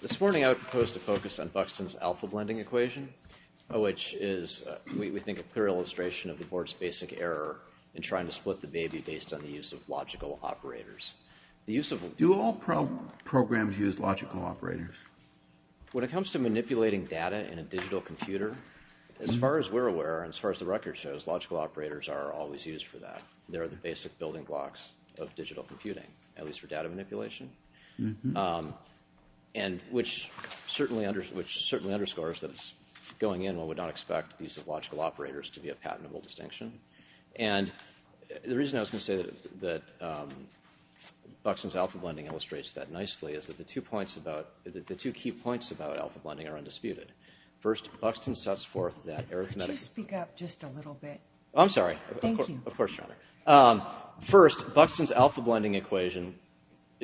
This morning, I would propose to focus on Buxton's alpha blending equation, which is, we think, a clear illustration of the board's basic error in trying to split the baby based on the use of logical operators. Do all programs use logical operators? When it comes to manipulating data in a digital computer, as far as we're aware and as far as the record shows, logical operators are always used for that. They're the basic building blocks of digital computing, at least for data manipulation. And which certainly underscores that it's going in when we don't expect the use of logical operators to be a patentable distinction. And the reason I was going to say that Buxton's alpha blending illustrates that nicely is that the two key points about alpha blending are undisputed. First, Buxton sets forth that arithmetic... Could you speak up just a little bit? I'm sorry. Thank you. Of course, Your Honor. First, Buxton's alpha blending equation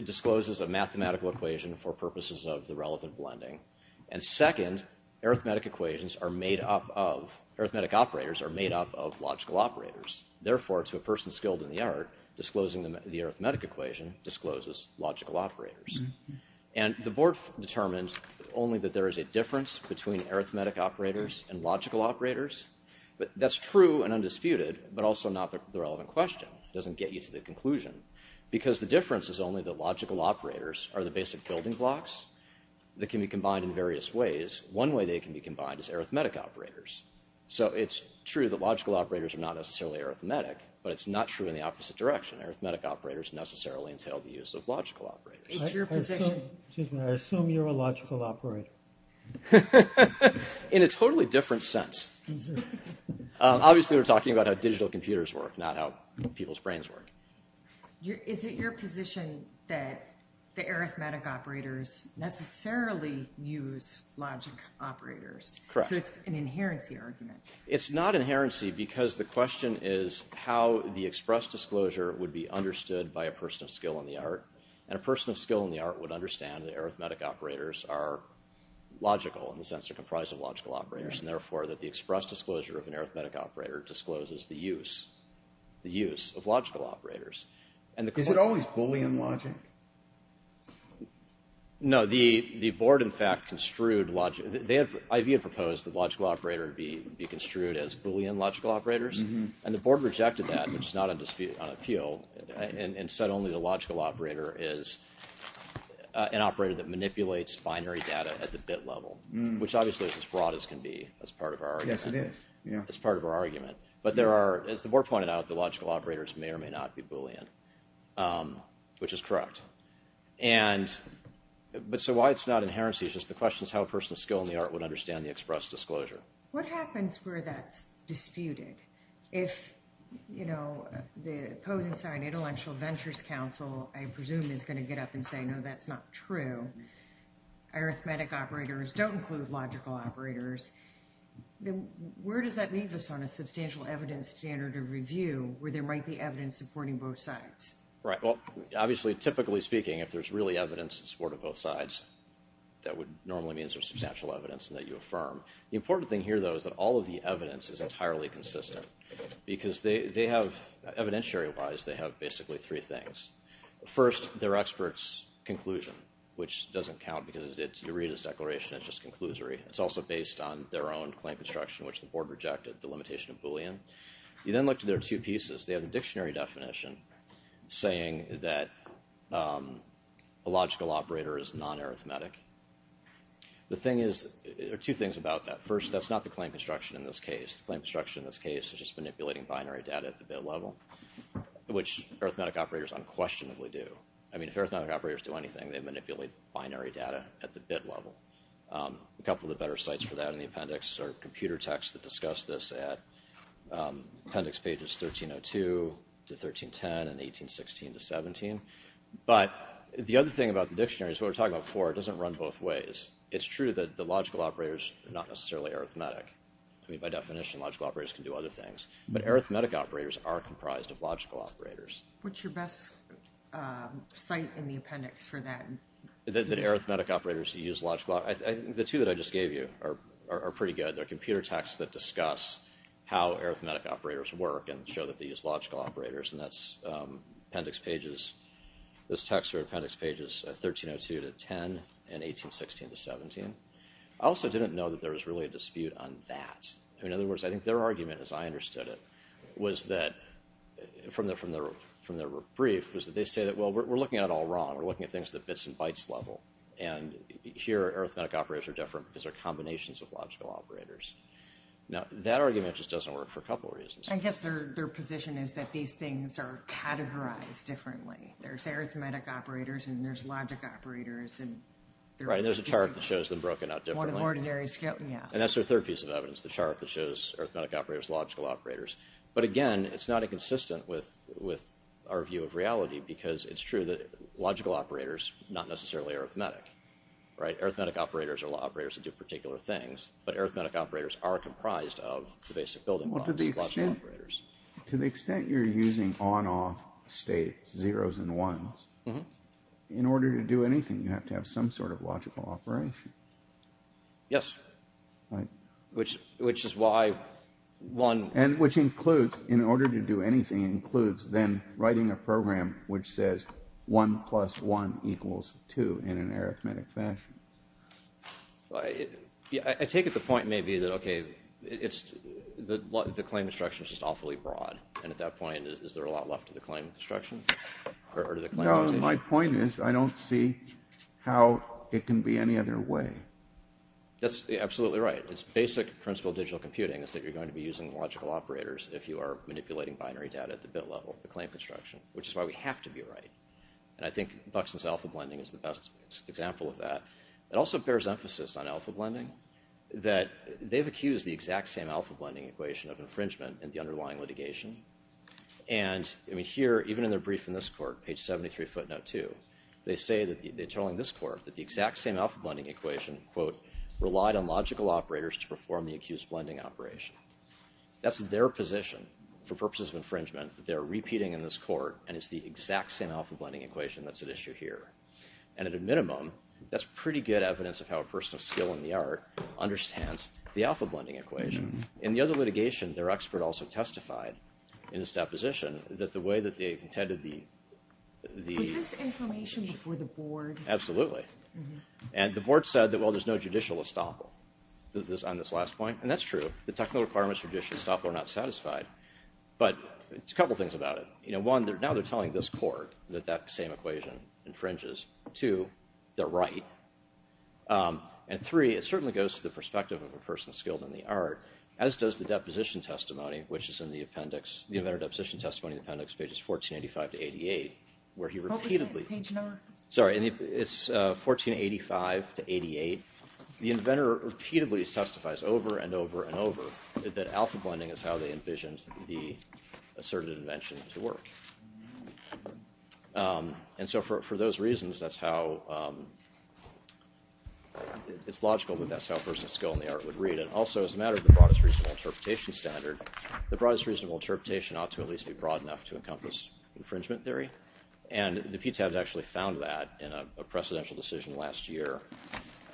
discloses a mathematical equation for purposes of the relevant blending. And second, arithmetic equations are made up of... arithmetic operators are made up of logical operators. Therefore, to a person skilled in the art, disclosing the arithmetic equation discloses logical operators. And the board determined only that there is a difference between arithmetic operators and logical operators. But that's true and undisputed, but also not the relevant question. It doesn't get you to the conclusion. Because the difference is only that logical operators are the basic building blocks that can be combined in various ways. One way they can be combined is arithmetic operators. So it's true that logical operators are not necessarily arithmetic, but it's not true in the opposite direction. Arithmetic operators necessarily entail the use of logical operators. Excuse me, I assume you're a logical operator. In a totally different sense. Obviously, we're talking about how digital computers work, not how people's brains work. Is it your position that the arithmetic operators necessarily use logical operators? Correct. So it's an inherency argument. It's not inherency because the question is how the express disclosure would be understood by a person of skill in the art. And a person of skill in the art would understand that arithmetic operators are logical in the sense they're comprised of logical operators. And therefore, that the express disclosure of an arithmetic operator discloses the use of logical operators. Is it always Boolean logic? No. The board, in fact, construed logic. IV had proposed that logical operators be construed as Boolean logical operators. And the board rejected that, which is not on appeal, and said only the logical operator is an operator that manipulates binary data at the bit level. Which obviously is as broad as can be as part of our argument. Yes, it is. As part of our argument. But there are, as the board pointed out, the logical operators may or may not be Boolean. Which is correct. And, but so why it's not inherency is just the question is how a person of skill in the art would understand the express disclosure. What happens where that's disputed? If, you know, the Posenstein Intellectual Ventures Council, I presume, is going to get up and say, no, that's not true. Arithmetic operators don't include logical operators. Where does that leave us on a substantial evidence standard of review where there might be evidence supporting both sides? Right. Well, obviously, typically speaking, if there's really evidence in support of both sides, that would normally mean there's substantial evidence that you affirm. The important thing here, though, is that all of the evidence is entirely consistent. Because they have, evidentiary-wise, they have basically three things. First, their expert's conclusion, which doesn't count because it's, you read his declaration, it's just conclusory. It's also based on their own claim construction, which the board rejected, the limitation of Boolean. You then look to their two pieces. They have a dictionary definition saying that a logical operator is non-arithmetic. The thing is, there are two things about that. First, that's not the claim construction in this case. The claim construction in this case is just manipulating binary data at the bit level, which arithmetic operators unquestionably do. I mean, if arithmetic operators do anything, they manipulate binary data at the bit level. A couple of the better sites for that in the appendix are computer texts that discuss this at appendix pages 1302 to 1310 and 1816 to 17. But the other thing about the dictionary is what we were talking about before. It doesn't run both ways. It's true that the logical operators are not necessarily arithmetic. I mean, by definition, logical operators can do other things. But arithmetic operators are comprised of logical operators. What's your best site in the appendix for that? The two that I just gave you are pretty good. They're computer texts that discuss how arithmetic operators work and show that they use logical operators. And that's appendix pages. Those texts are appendix pages 1302 to 10 and 1816 to 17. I also didn't know that there was really a dispute on that. In other words, I think their argument, as I understood it, was that from their brief, was that they say that, well, we're looking at it all wrong. We're looking at things at the bits and bytes level. And here, arithmetic operators are different because they're combinations of logical operators. Now, that argument just doesn't work for a couple of reasons. I guess their position is that these things are categorized differently. There's arithmetic operators and there's logic operators. Right. And there's a chart that shows them broken out differently. And that's their third piece of evidence, the chart that shows arithmetic operators, logical operators. But again, it's not inconsistent with our view of reality because it's true that logical operators are not necessarily arithmetic. Arithmetic operators are operators that do particular things. But arithmetic operators are comprised of the basic building blocks. To the extent you're using on-off states, zeros and ones, in order to do anything, you have to have some sort of logical operation. Yes. Which is why one... And which includes, in order to do anything, includes then writing a program which says 1 plus 1 equals 2 in an arithmetic fashion. I take it the point may be that, okay, the claim instruction is just awfully broad. And at that point, is there a lot left to the claim instruction? No, my point is I don't see how it can be any other way. That's absolutely right. It's basic principle of digital computing is that you're going to be using logical operators if you are manipulating binary data at the bit level, the claim construction, which is why we have to be right. And I think Buxton's Alpha Blending is the best example of that. It also bears emphasis on Alpha Blending that they've accused the exact same Alpha Blending equation of infringement in the underlying litigation. And here, even in their brief in this court, page 73, footnote 2, they say that they're telling this court that the exact same Alpha Blending equation, quote, relied on logical operators to perform the accused blending operation. That's their position for purposes of infringement that they are repeating in this court and it's the exact same Alpha Blending equation that's at issue here. And at a minimum, that's pretty good evidence of how a person of skill in the art understands the Alpha Blending equation. In the other litigation, their expert also testified in his deposition that the way that they contended the... Was this information before the board? Absolutely. And the board said that, well, there's no judicial estoppel on this last point. And that's true. The technical requirements for judicial estoppel are not satisfied. But there's a couple of things about it. One, now they're telling this court that that same equation infringes. Two, they're right. And three, it certainly goes to the perspective of a person skilled in the art, as does the deposition testimony, which is in the appendix, the inventor deposition testimony in the appendix, pages 1485 to 88, where he repeatedly... What was the page number? Sorry, it's 1485 to 88. The inventor repeatedly testifies over and over and over that Alpha Blending is how they envisioned the asserted invention to work. And so for those reasons, that's how... It's logical that that's how a person skilled in the art would read. And also, as a matter of the broadest reasonable interpretation standard, the broadest reasonable interpretation ought to at least be broad enough to encompass infringement theory. And the PTAB has actually found that in a precedential decision last year,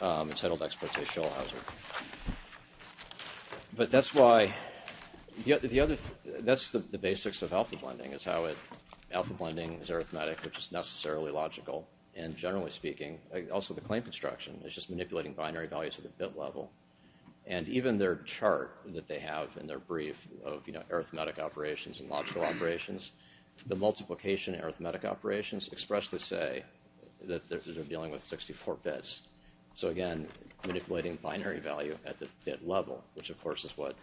entitled Exploitation Allows It. But that's why... That's the basics of Alpha Blending, is how it... Alpha Blending is arithmetic, which is necessarily logical. And generally speaking, also the claim construction is just manipulating binary values at the bit level. And even their chart that they have in their brief of arithmetic operations and logical operations, the multiplication arithmetic operations expressly say that they're dealing with 64 bits. So again, manipulating binary value at the bit level, which of course is what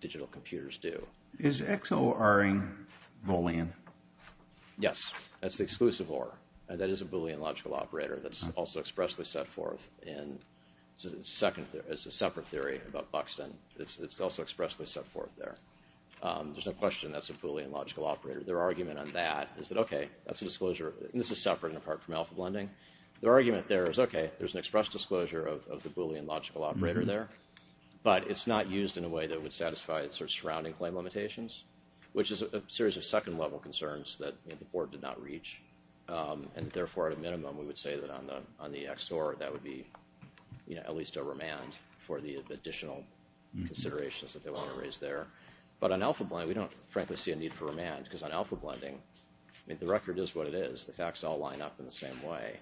digital computers do. Is XORing Boolean? Yes, that's the exclusive OR. And that is a Boolean logical operator that's also expressly set forth in... It's a separate theory about Buxton. It's also expressly set forth there. There's no question that's a Boolean logical operator. Their argument on that is that, okay, that's a disclosure... And this is separate and apart from Alpha Blending. Their argument there is, okay, there's an express disclosure of the Boolean logical operator there. But it's not used in a way that would satisfy its surrounding claim limitations, which is a series of second-level concerns that the board did not reach. And therefore, at a minimum, we would say that on the XOR, that would be at least a remand for the additional considerations that they want to raise there. But on Alpha Blending, we don't, frankly, see a need for a remand, because on Alpha Blending, the record is what it is. The facts all line up in the same way.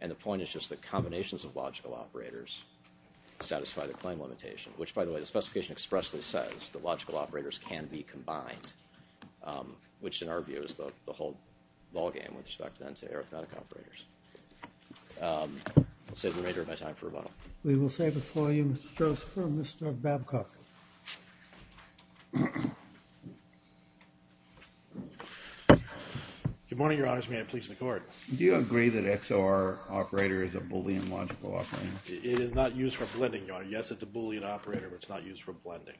And the point is just that combinations of logical operators satisfy the claim limitation, which, by the way, the specification expressly says that logical operators can be combined, which, in our view, is the whole ballgame with respect, then, to arithmetic operators. I'll save the remainder of my time for rebuttal. We will save it for you, Mr. Joseph. Mr. Babcock. Good morning, Your Honors. May I please the Court? Do you agree that XOR operator is a Boolean logical operator? It is not used for blending, Your Honor. Yes, it's a Boolean operator, but it's not used for blending.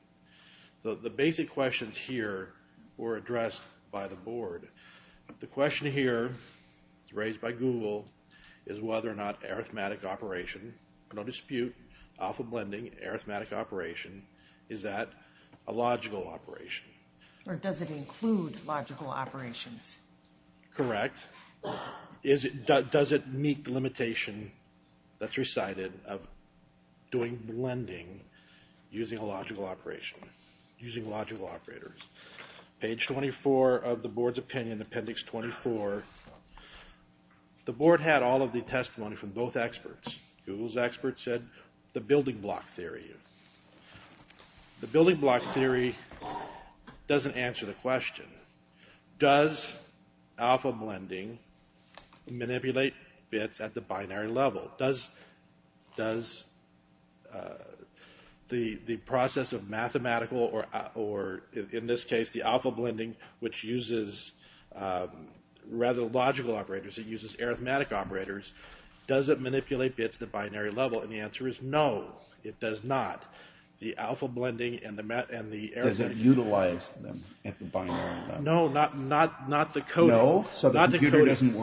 The basic questions here were addressed by the Board. The question here, raised by Google, is whether or not arithmetic operation, no dispute, Alpha Blending, arithmetic operation, is that a logical operation. Or does it include logical operations? Correct. Does it meet the limitation that's recited of doing blending using a logical operation, using logical operators? Page 24 of the Board's opinion, Appendix 24. The Board had all of the testimony from both experts. Google's expert said the Building Block Theory. The Building Block Theory doesn't answer the question. Does Alpha Blending manipulate bits at the binary level? Does the process of mathematical, or in this case the Alpha Blending, which uses rather logical operators, it uses arithmetic operators, does it manipulate bits at the binary level? And the answer is no, it does not. Does it utilize them at the binary level? No, not the coding. So the computer doesn't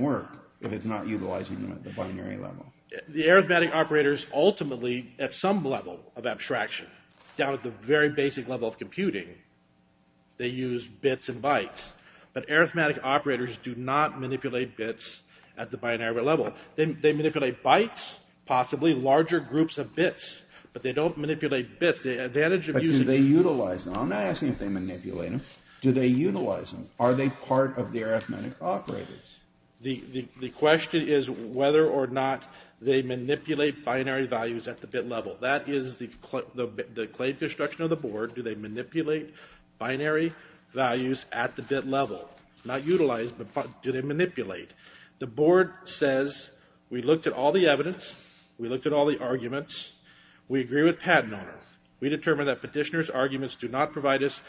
work if it's not utilizing them at the binary level? The arithmetic operators ultimately, at some level of abstraction, down at the very basic level of computing, they use bits and bytes. But arithmetic operators do not manipulate bits at the binary level. They manipulate bytes, possibly larger groups of bits. But they don't manipulate bits. The advantage of using... But do they utilize them? I'm not asking if they manipulate them. Do they utilize them? Are they part of the arithmetic operators? The question is whether or not they manipulate binary values at the bit level. That is the claim construction of the Board. Do they manipulate binary values at the bit level? Not utilize, but do they manipulate? The Board says, we looked at all the evidence. We looked at all the arguments. We agree with Patton on it. We determined that Petitioner's arguments do not provide us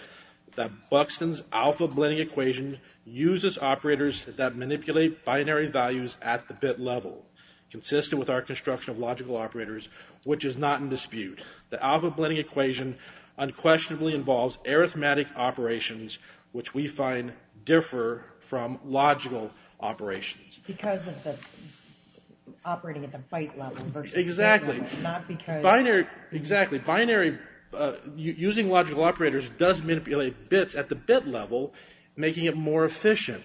that Buxton's alpha blending equation uses operators that manipulate binary values at the bit level, consistent with our construction of logical operators, which is not in dispute. The alpha blending equation unquestionably involves arithmetic operations, which we find differ from logical operations. Because of the operating at the byte level versus... Exactly. Not because... Binary... Exactly. Binary... Using logical operators does manipulate bits at the bit level, making it more efficient.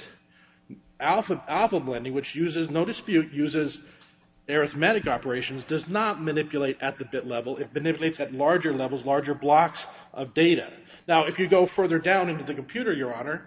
Alpha blending, which uses, no dispute, uses arithmetic operations, does not manipulate at the bit level. It manipulates at larger levels, larger blocks of data. Now, if you go further down into the computer, Your Honor,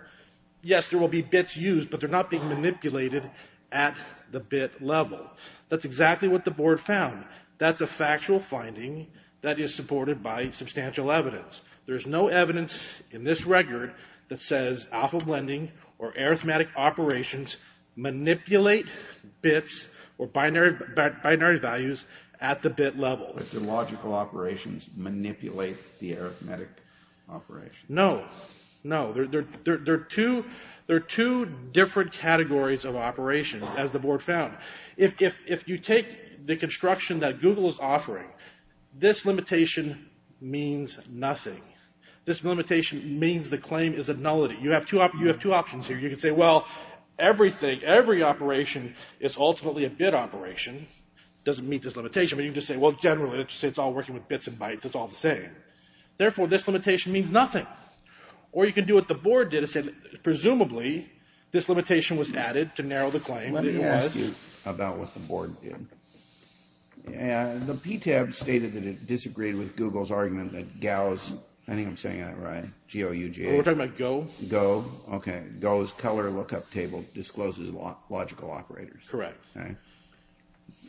yes, there will be bits used, but they're not being manipulated at the bit level. That's exactly what the Board found. That's a factual finding that is supported by substantial evidence. There's no evidence in this record that says alpha blending or arithmetic operations manipulate bits or binary values at the bit level. But do logical operations manipulate the arithmetic operations? No, no. There are two different categories of operations, as the Board found. If you take the construction that Google is offering, this limitation means nothing. This limitation means the claim is a nullity. You have two options here. You can say, well, everything, every operation is ultimately a bit operation. It doesn't meet this limitation. But you can just say, well, generally, it's all working with bits and bytes. It's all the same. Therefore, this limitation means nothing. Or you can do what the Board did and say, presumably, this limitation was added to narrow the claim. Let me ask you about what the Board did. The PTAB stated that it disagreed with Google's argument that Gauss, I think I'm saying that right, G-O-U-G-A. We're talking about Go. Go, okay. Go's color lookup table discloses logical operators. Correct.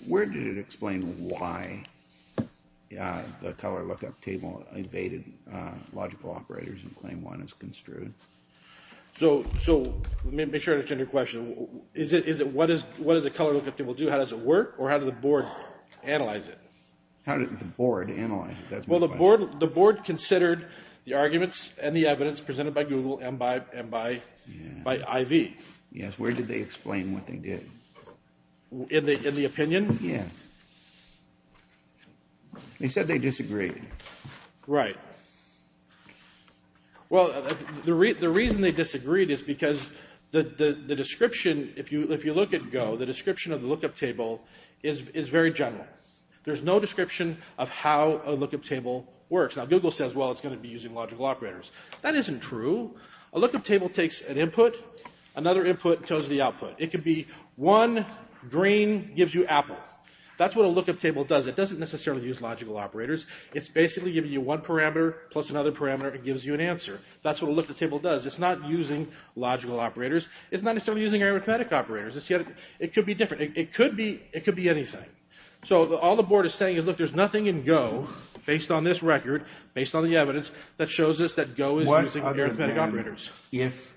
Where did it explain why the color lookup table evaded logical operators in Claim 1 as construed? So let me make sure I understand your question. What does the color lookup table do? How does it work? Or how did the Board analyze it? How did the Board analyze it? Well, the Board considered the arguments and the evidence presented by Google and by IV. Yes. Where did they explain what they did? In the opinion? Yes. They said they disagreed. Right. Well, the reason they disagreed is because the description, if you look at Go, the description of the lookup table is very general. There's no description of how a lookup table works. Now, Google says, well, it's going to be using logical operators. That isn't true. A lookup table takes an input, another input tells the output. It could be one green gives you apple. That's what a lookup table does. It doesn't necessarily use logical operators. It's basically giving you one parameter plus another parameter. It gives you an answer. That's what a lookup table does. It's not using logical operators. It's not necessarily using arithmetic operators. It could be different. It could be anything. So all the Board is saying is, look, there's nothing in Go, based on this record, based on the evidence, that shows us that Go is using arithmetic operators. What other than if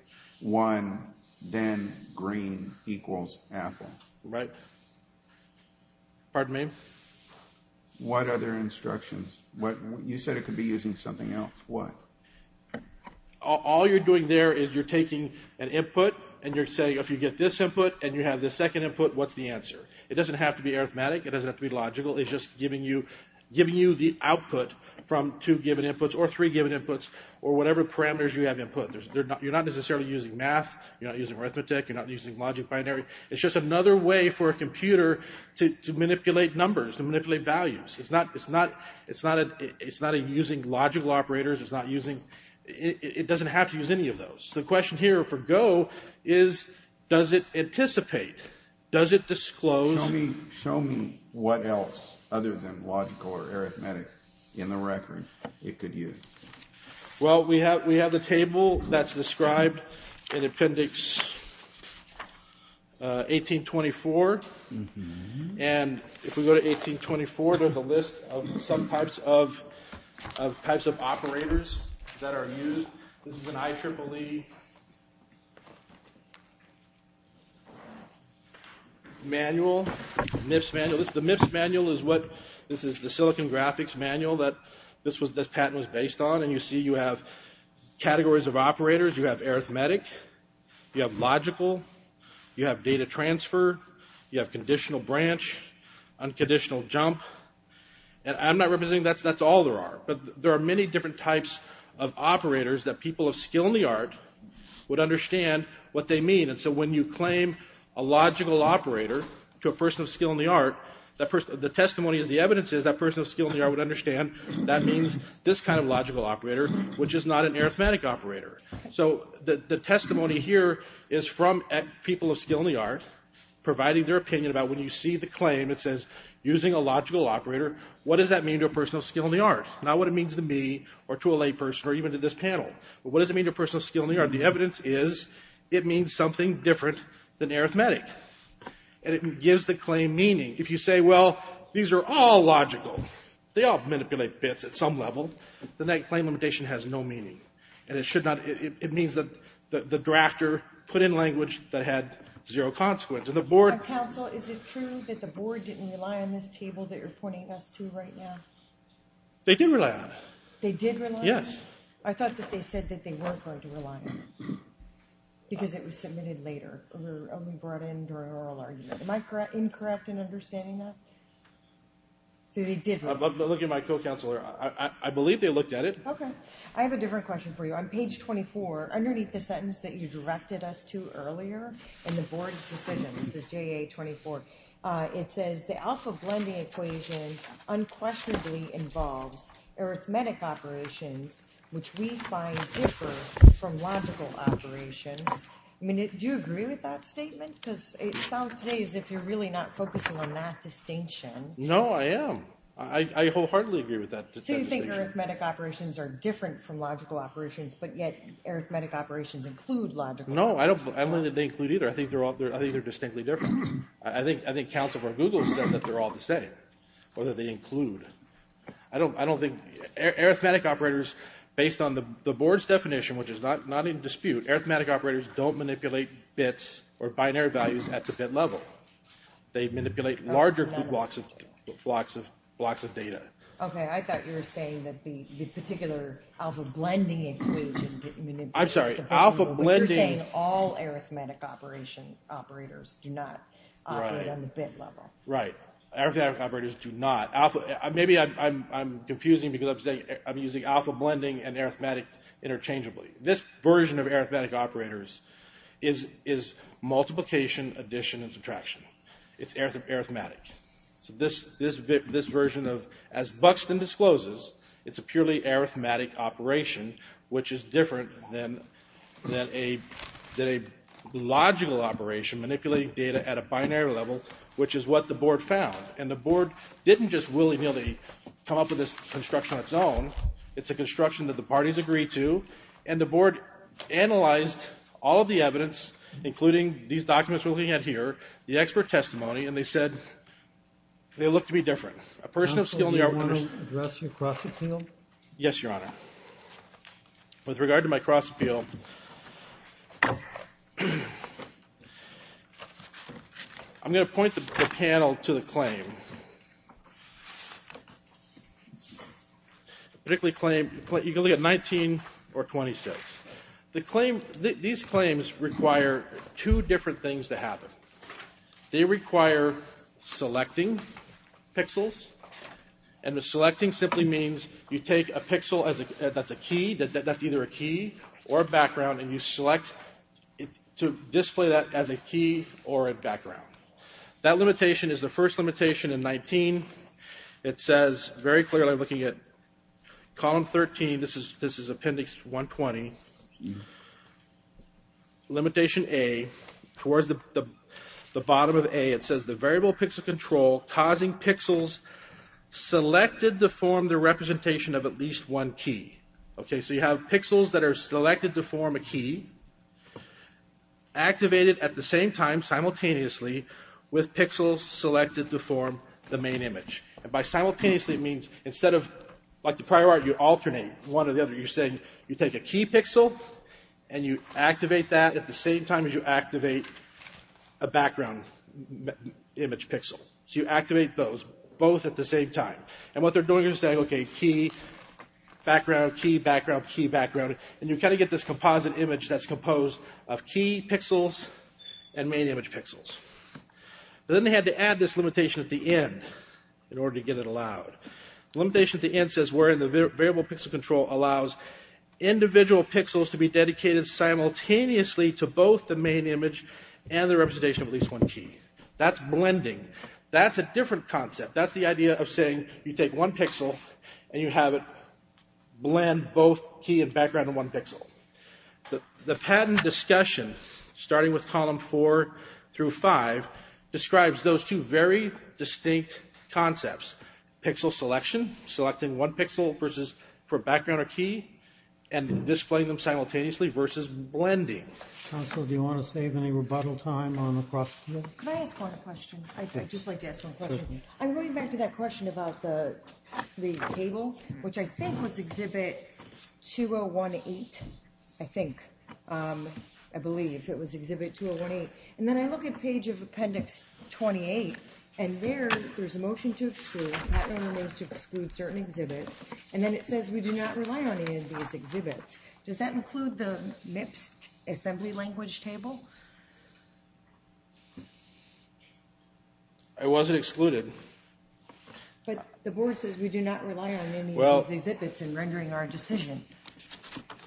one then green equals apple? Right. Pardon me? What other instructions? You said it could be using something else. What? All you're doing there is you're taking an input and you're saying, if you get this input and you have this second input, what's the answer? It doesn't have to be arithmetic. It doesn't have to be logical. It's just giving you the output from two given inputs or three given inputs or whatever parameters you have input. You're not necessarily using math. You're not using arithmetic. You're not using logic binary. It's just another way for a computer to manipulate numbers, to manipulate values. It's not using logical operators. It doesn't have to use any of those. The question here for Go is, does it anticipate? Does it disclose? Show me what else other than logical or arithmetic in the record it could use. Well, we have a table that's described in Appendix 1824. And if we go to 1824, there's a list of some types of operators that are used. This is an IEEE manual, MIPS manual. The MIPS manual is what, this is the Silicon Graphics manual that this patent was based on. And you see you have categories of operators. You have arithmetic. You have logical. You have data transfer. You have conditional branch, unconditional jump. And I'm not representing, that's all there are. But there are many different types of operators that people of skill in the art would understand what they mean. And so when you claim a logical operator to a person of skill in the art, the testimony is the evidence is that person of skill in the art would understand that means this kind of logical operator, which is not an arithmetic operator. So the testimony here is from people of skill in the art providing their opinion about when you see the claim, it says, using a logical operator, what does that mean to a person of skill in the art? Not what it means to me or to a layperson or even to this panel. But what does it mean to a person of skill in the art? The evidence is it means something different than arithmetic. And it gives the claim meaning. If you say, well, these are all logical, they all manipulate bits at some level, then that claim limitation has no meaning. And it should not, it means that the drafter put in language that had zero consequence. Counsel, is it true that the board didn't rely on this table that you're pointing us to right now? They did rely on it. They did rely on it? Yes. I thought that they said that they weren't going to rely on it. Because it was submitted later or only brought in during oral argument. Am I incorrect in understanding that? So they did rely on it. I'm looking at my co-counselor. I believe they looked at it. Okay. I have a different question for you. On page 24, underneath the sentence that you directed us to earlier in the board's decision, this is JA 24, it says the alpha blending equation unquestionably involves arithmetic operations, which we find differ from logical operations. I mean, do you agree with that statement? Because it sounds to me as if you're really not focusing on that distinction. No, I am. I wholeheartedly agree with that distinction. I think arithmetic operations are different from logical operations, but yet arithmetic operations include logical operations. No, I don't think they include either. I think they're distinctly different. I think counsel for Google said that they're all the same, or that they include. I don't think arithmetic operators, based on the board's definition, which is not in dispute, arithmetic operators don't manipulate bits or binary values at the bit level. They manipulate larger blocks of data. Okay, I thought you were saying that the particular alpha blending includes... I'm sorry, alpha blending... But you're saying all arithmetic operators do not operate on the bit level. Right. Arithmetic operators do not. Maybe I'm confusing because I'm using alpha blending and arithmetic interchangeably. This version of arithmetic operators is multiplication, addition, and subtraction. It's arithmetic. So this version of, as Buxton discloses, it's a purely arithmetic operation, which is different than a logical operation manipulating data at a binary level, which is what the board found. And the board didn't just willy-nilly come up with this construction on its own. It's a construction that the parties agreed to, and the board analyzed all of the evidence, including these documents we're looking at here, the expert testimony, and they said they look to be different. A person of skill in the art... Counsel, do you want to address your cross-appeal? Yes, Your Honor. With regard to my cross-appeal, I'm going to point the panel to the claim. The particular claim, you can look at 19 or 26. The claim, these claims require two different things to happen. They require selecting pixels, and selecting simply means you take a pixel that's a key, that's either a key or a background, and you select to display that as a key or a background. That limitation is the first limitation in 19. It says very clearly, looking at column 13, this is appendix 120, limitation A, towards the bottom of A, it says, the variable pixel control causing pixels selected to form the representation of at least one key. Okay, so you have pixels that are selected to form a key, activated at the same time, simultaneously, with pixels selected to form the main image. And by simultaneously, it means instead of, like the prior art, you alternate one or the other. You're saying, you take a key pixel, and you activate that at the same time as you activate a background image pixel. So you activate those, both at the same time. And what they're doing is saying, okay, key, background, key, background, key, background, and you kind of get this composite image that's composed of key pixels and main image pixels. Then they had to add this limitation at the end, in order to get it allowed. The limitation at the end says, wherein the variable pixel control allows individual pixels to be dedicated simultaneously to both the main image and the representation of at least one key. That's blending. That's a different concept. That's the idea of saying, you take one pixel, and you have it blend both key and background in one pixel. The patent discussion, starting with column four through five, describes those two very distinct concepts. Pixel selection, selecting one pixel for background or key, and displaying them simultaneously, versus blending. Counsel, do you want to save any rebuttal time on the question? Can I ask one question? I'd just like to ask one question. I'm going back to that question about the table, which I think was Exhibit 2018. I think. I believe it was Exhibit 2018. And then I look at page of Appendix 28, and there, there's a motion to exclude. That only means to exclude certain exhibits. And then it says we do not rely on any of these exhibits. Does that include the MIPS assembly language table? It wasn't excluded. But the board says we do not rely on any of these exhibits in rendering our decision.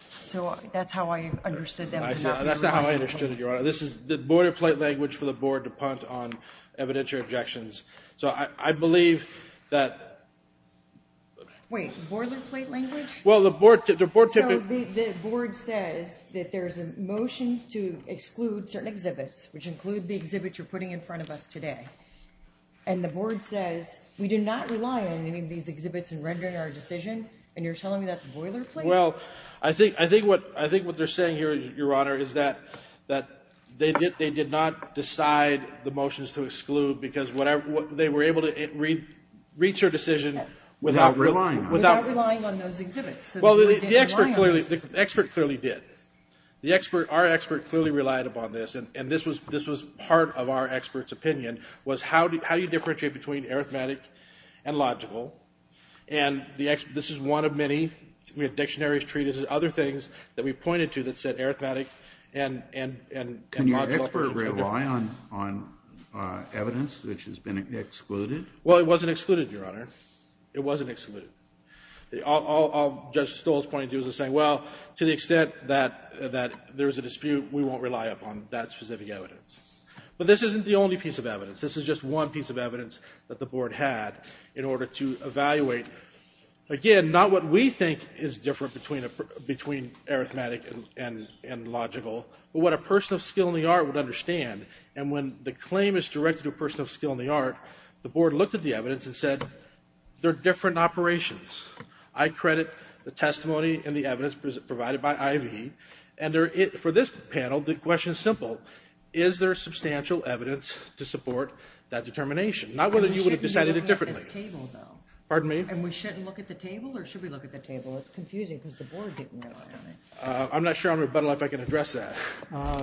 So that's how I understood that. That's not how I understood it, Your Honor. This is the boilerplate language for the board to punt on evidentiary objections. So I believe that. Wait, boilerplate language? Well, the board typically. The board says that there's a motion to exclude certain exhibits, which include the exhibits you're putting in front of us today. And the board says we do not rely on any of these exhibits in rendering our decision, and you're telling me that's boilerplate? Well, I think what they're saying here, Your Honor, is that they did not decide the motions to exclude because they were able to reach their decision without relying on those exhibits. Well, the expert clearly did. Our expert clearly relied upon this, and this was part of our expert's opinion, was how do you differentiate between arithmetic and logical? And this is one of many. We had dictionaries, treatises, other things that we pointed to that said arithmetic and logical. Can your expert rely on evidence which has been excluded? Well, it wasn't excluded, Your Honor. It wasn't excluded. All Judge Stoll's point is to say, well, to the extent that there's a dispute, we won't rely upon that specific evidence. But this isn't the only piece of evidence. This is just one piece of evidence that the board had in order to evaluate, again, not what we think is different between arithmetic and logical, but what a person of skill in the art would understand. And when the claim is directed to a person of skill in the art, the board looked at the evidence and said, they're different operations. I credit the testimony and the evidence provided by I.V. And for this panel, the question is simple. Is there substantial evidence to support that determination? Not whether you would have decided it differently. Pardon me? And we shouldn't look at the table, or should we look at the table? It's confusing because the board didn't rely on it. I'm not sure on rebuttal if I can address that.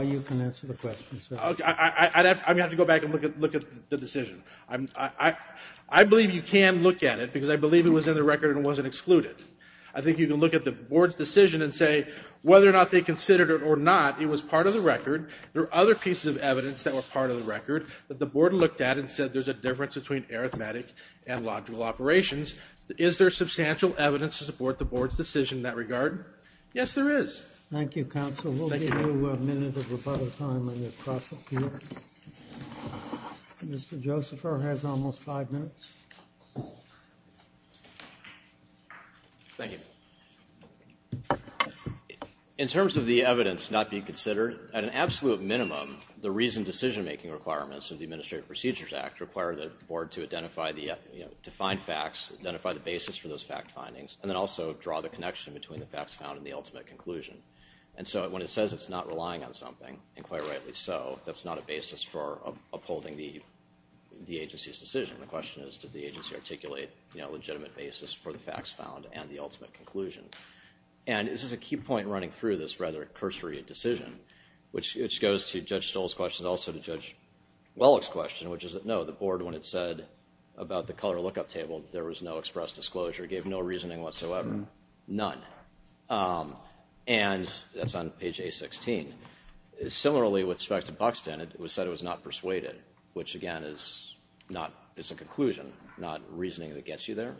You can answer the question, sir. I'm going to have to go back and look at the decision. I believe you can look at it because I believe it was in the record and wasn't excluded. I think you can look at the board's decision and say whether or not they considered it or not, it was part of the record. There were other pieces of evidence that were part of the record that the board looked at and said there's a difference between arithmetic and logical operations. Is there substantial evidence to support the board's decision in that regard? Yes, there is. Thank you, counsel. We'll give you a minute of rebuttal time when you cross up here. Mr. Josepher has almost five minutes. Thank you. In terms of the evidence not being considered, at an absolute minimum, the reasoned decision-making requirements of the Administrative Procedures Act require the board to identify the defined facts, identify the basis for those fact findings, and then also draw the connection between the facts found and the ultimate conclusion. When it says it's not relying on something, and quite rightly so, that's not a basis for upholding the agency's decision. The question is, did the agency articulate a legitimate basis for the facts found and the ultimate conclusion? This is a key point running through this rather cursory decision, which goes to Judge Stoll's question and also to Judge Wellick's question, which is that no, the board, when it said about the color lookup table, there was no express disclosure, gave no reasoning whatsoever, none. And that's on page A-16. Similarly, with respect to Buxton, it said it was not persuaded, which, again, is a conclusion, not reasoning that gets you there.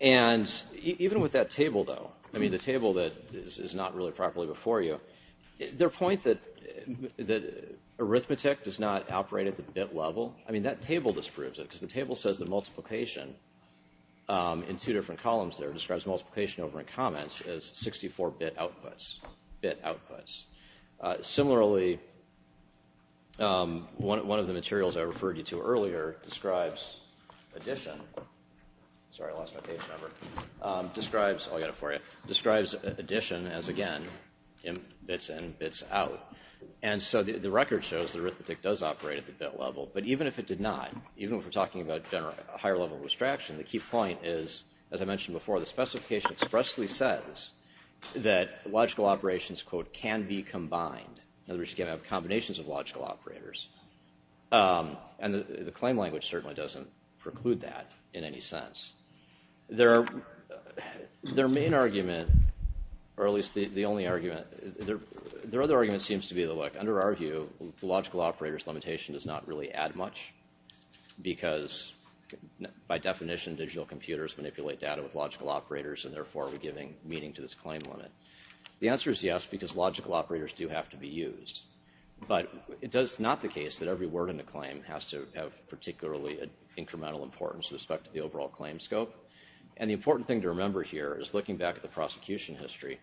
And even with that table, though, I mean, the table that is not really properly before you, their point that arithmetic does not operate at the bit level, I mean, that table disproves it, because the table says that multiplication in two different columns there describes multiplication over in comments as 64-bit outputs, bit outputs. Similarly, one of the materials I referred you to earlier describes addition. Sorry, I lost my page number. Describes, I'll get it for you, describes addition as, again, bits in, bits out. And so the record shows that arithmetic does operate at the bit level, but even if it did not, even if we're talking about a higher level of abstraction, the key point is, as I mentioned before, the specification expressly says that logical operations, quote, can be combined. In other words, you can have combinations of logical operators. And the claim language certainly doesn't preclude that in any sense. Their main argument, or at least the only argument, their other argument seems to be that, under our view, the logical operator's limitation does not really add much, because by definition, digital computers manipulate data with logical operators and therefore are giving meaning to this claim limit. The answer is yes, because logical operators do have to be used. But it is not the case that every word in the claim has to have particularly incremental importance with respect to the overall claim scope. And the important thing to remember here is, looking back at the prosecution history,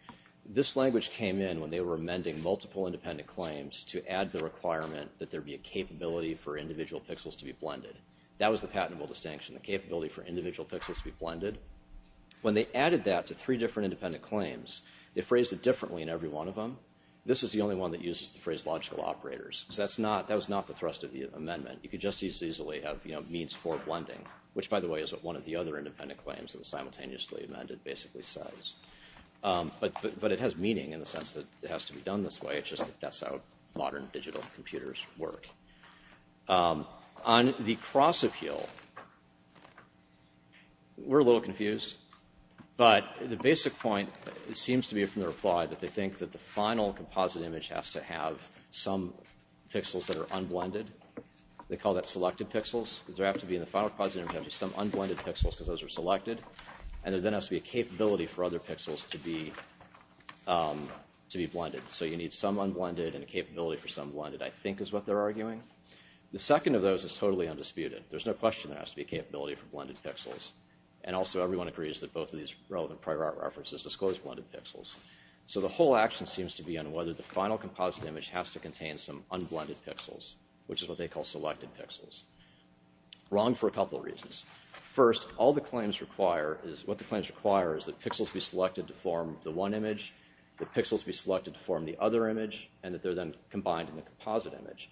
this language came in when they were amending multiple independent claims to add the requirement that there be a capability for individual pixels to be blended. That was the patentable distinction, the capability for individual pixels to be blended. When they added that to three different independent claims, they phrased it differently in every one of them. This is the only one that uses the phrase logical operators. So that was not the thrust of the amendment. You could just as easily have means for blending, which, by the way, is what one of the other independent claims that was simultaneously amended basically says. But it has meaning in the sense that it has to be done this way. It's just that that's how modern digital computers work. On the cross-appeal, we're a little confused. But the basic point seems to be from the reply that they think that the final composite image has to have some pixels that are unblended. They call that selected pixels. Does there have to be in the final composite image some unblended pixels because those are selected? And there then has to be a capability for other pixels to be blended. So you need some unblended and a capability for some blended, I think, is what they're arguing. The second of those is totally undisputed. There's no question there has to be a capability for blended pixels. And also everyone agrees that both of these relevant prior art references disclose blended pixels. So the whole action seems to be on whether the final composite image has to contain some unblended pixels, which is what they call selected pixels. Wrong for a couple of reasons. First, what the claims require is that pixels be selected to form the one image, that pixels be selected to form the other image, and that they're then combined in the composite image.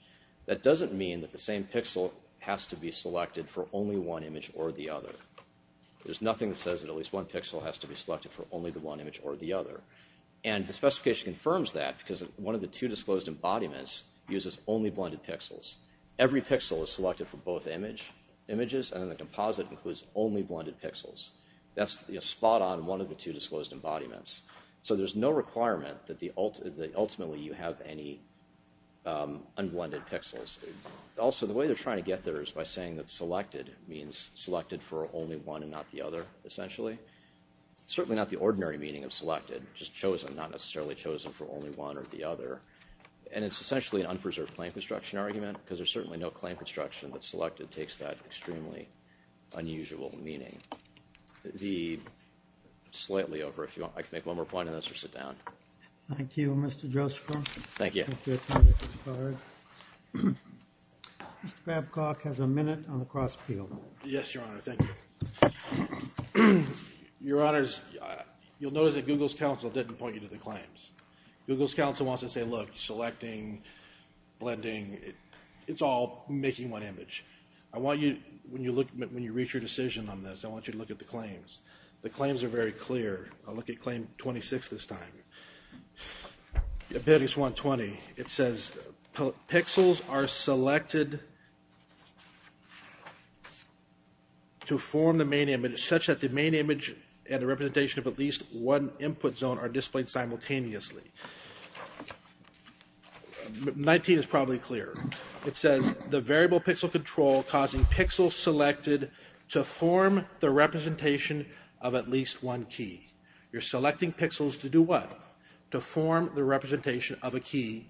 That doesn't mean that the same pixel has to be selected for only one image or the other. There's nothing that says that at least one pixel has to be selected for only the one image or the other. And the specification confirms that because one of the two disclosed embodiments uses only blended pixels. Every pixel is selected for both images, and then the composite includes only blended pixels. That's spot on one of the two disclosed embodiments. So there's no requirement that ultimately you have any unblended pixels. Also, the way they're trying to get there is by saying that selected means selected for only one and not the other, essentially. It's certainly not the ordinary meaning of selected, just chosen, not necessarily chosen for only one or the other. And it's essentially an unpreserved claim construction argument because there's certainly no claim construction that selected takes that extremely unusual meaning. Slightly over, if you want, I can make one more point on this or sit down. Thank you, Mr. Joseph. Thank you. Mr. Babcock has a minute on the cross-appeal. Yes, Your Honor. Thank you. Your Honors, you'll notice that Google's counsel didn't point you to the claims. Google's counsel wants to say, look, selecting, blending, it's all making one image. I want you, when you reach your decision on this, I want you to look at the claims. The claims are very clear. I'll look at claim 26 this time. Abilities 120, it says pixels are selected to form the main image such that the main image and the representation of at least one input zone are displayed simultaneously. 19 is probably clearer. It says the variable pixel control causing pixels selected to form the representation of at least one key. You're selecting pixels to do what? To form the representation of a key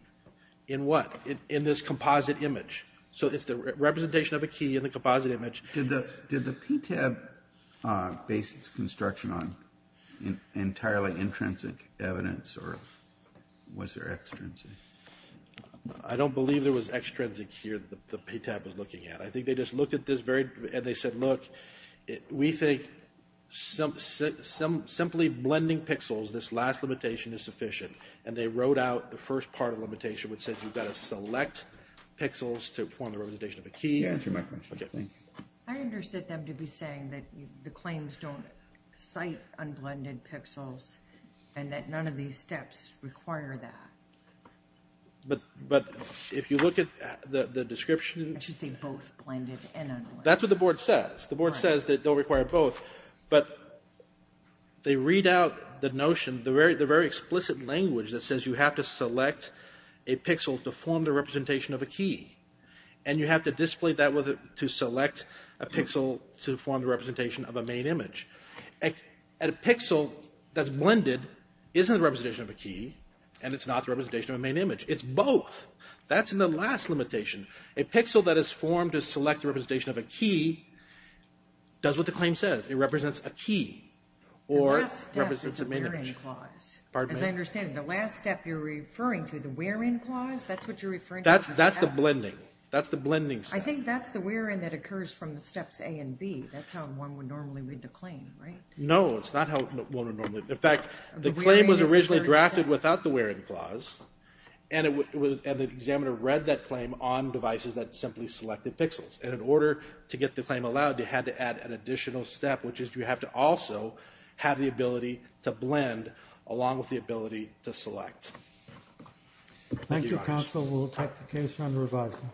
in what? In this composite image. So it's the representation of a key in the composite image. Did the PTAB base its construction on entirely intrinsic evidence or was there extrinsic? I don't believe there was extrinsic here that the PTAB was looking at. I think they just looked at this very, and they said, look, we think simply blending pixels, this last limitation is sufficient, and they wrote out the first part of the limitation which says you've got to select pixels to form the representation of a key. You answered my question. I understood them to be saying that the claims don't cite unblended pixels and that none of these steps require that. But if you look at the description. I should say both blended and unblended. That's what the board says. The board says that they'll require both, but they read out the notion, the very explicit language that says you have to select a pixel to form the representation of a key, and you have to display that to select a pixel to form the representation of a main image. A pixel that's blended isn't a representation of a key, and it's not the representation of a main image. It's both. That's in the last limitation. A pixel that is formed to select the representation of a key does what the claim says. It represents a key or it represents a main image. The last step is a where-in clause. As I understand it, the last step you're referring to, the where-in clause, that's what you're referring to? That's the blending. That's the blending step. I think that's the where-in that occurs from the steps A and B. That's how one would normally read the claim, right? No, it's not how one would normally. In fact, the claim was originally drafted without the where-in clause, and the examiner read that claim on devices that simply selected pixels, and in order to get the claim allowed, they had to add an additional step, which is you have to also have the ability to blend along with the ability to select. Thank you, guys. Thank you, counsel. We'll take the case under revising.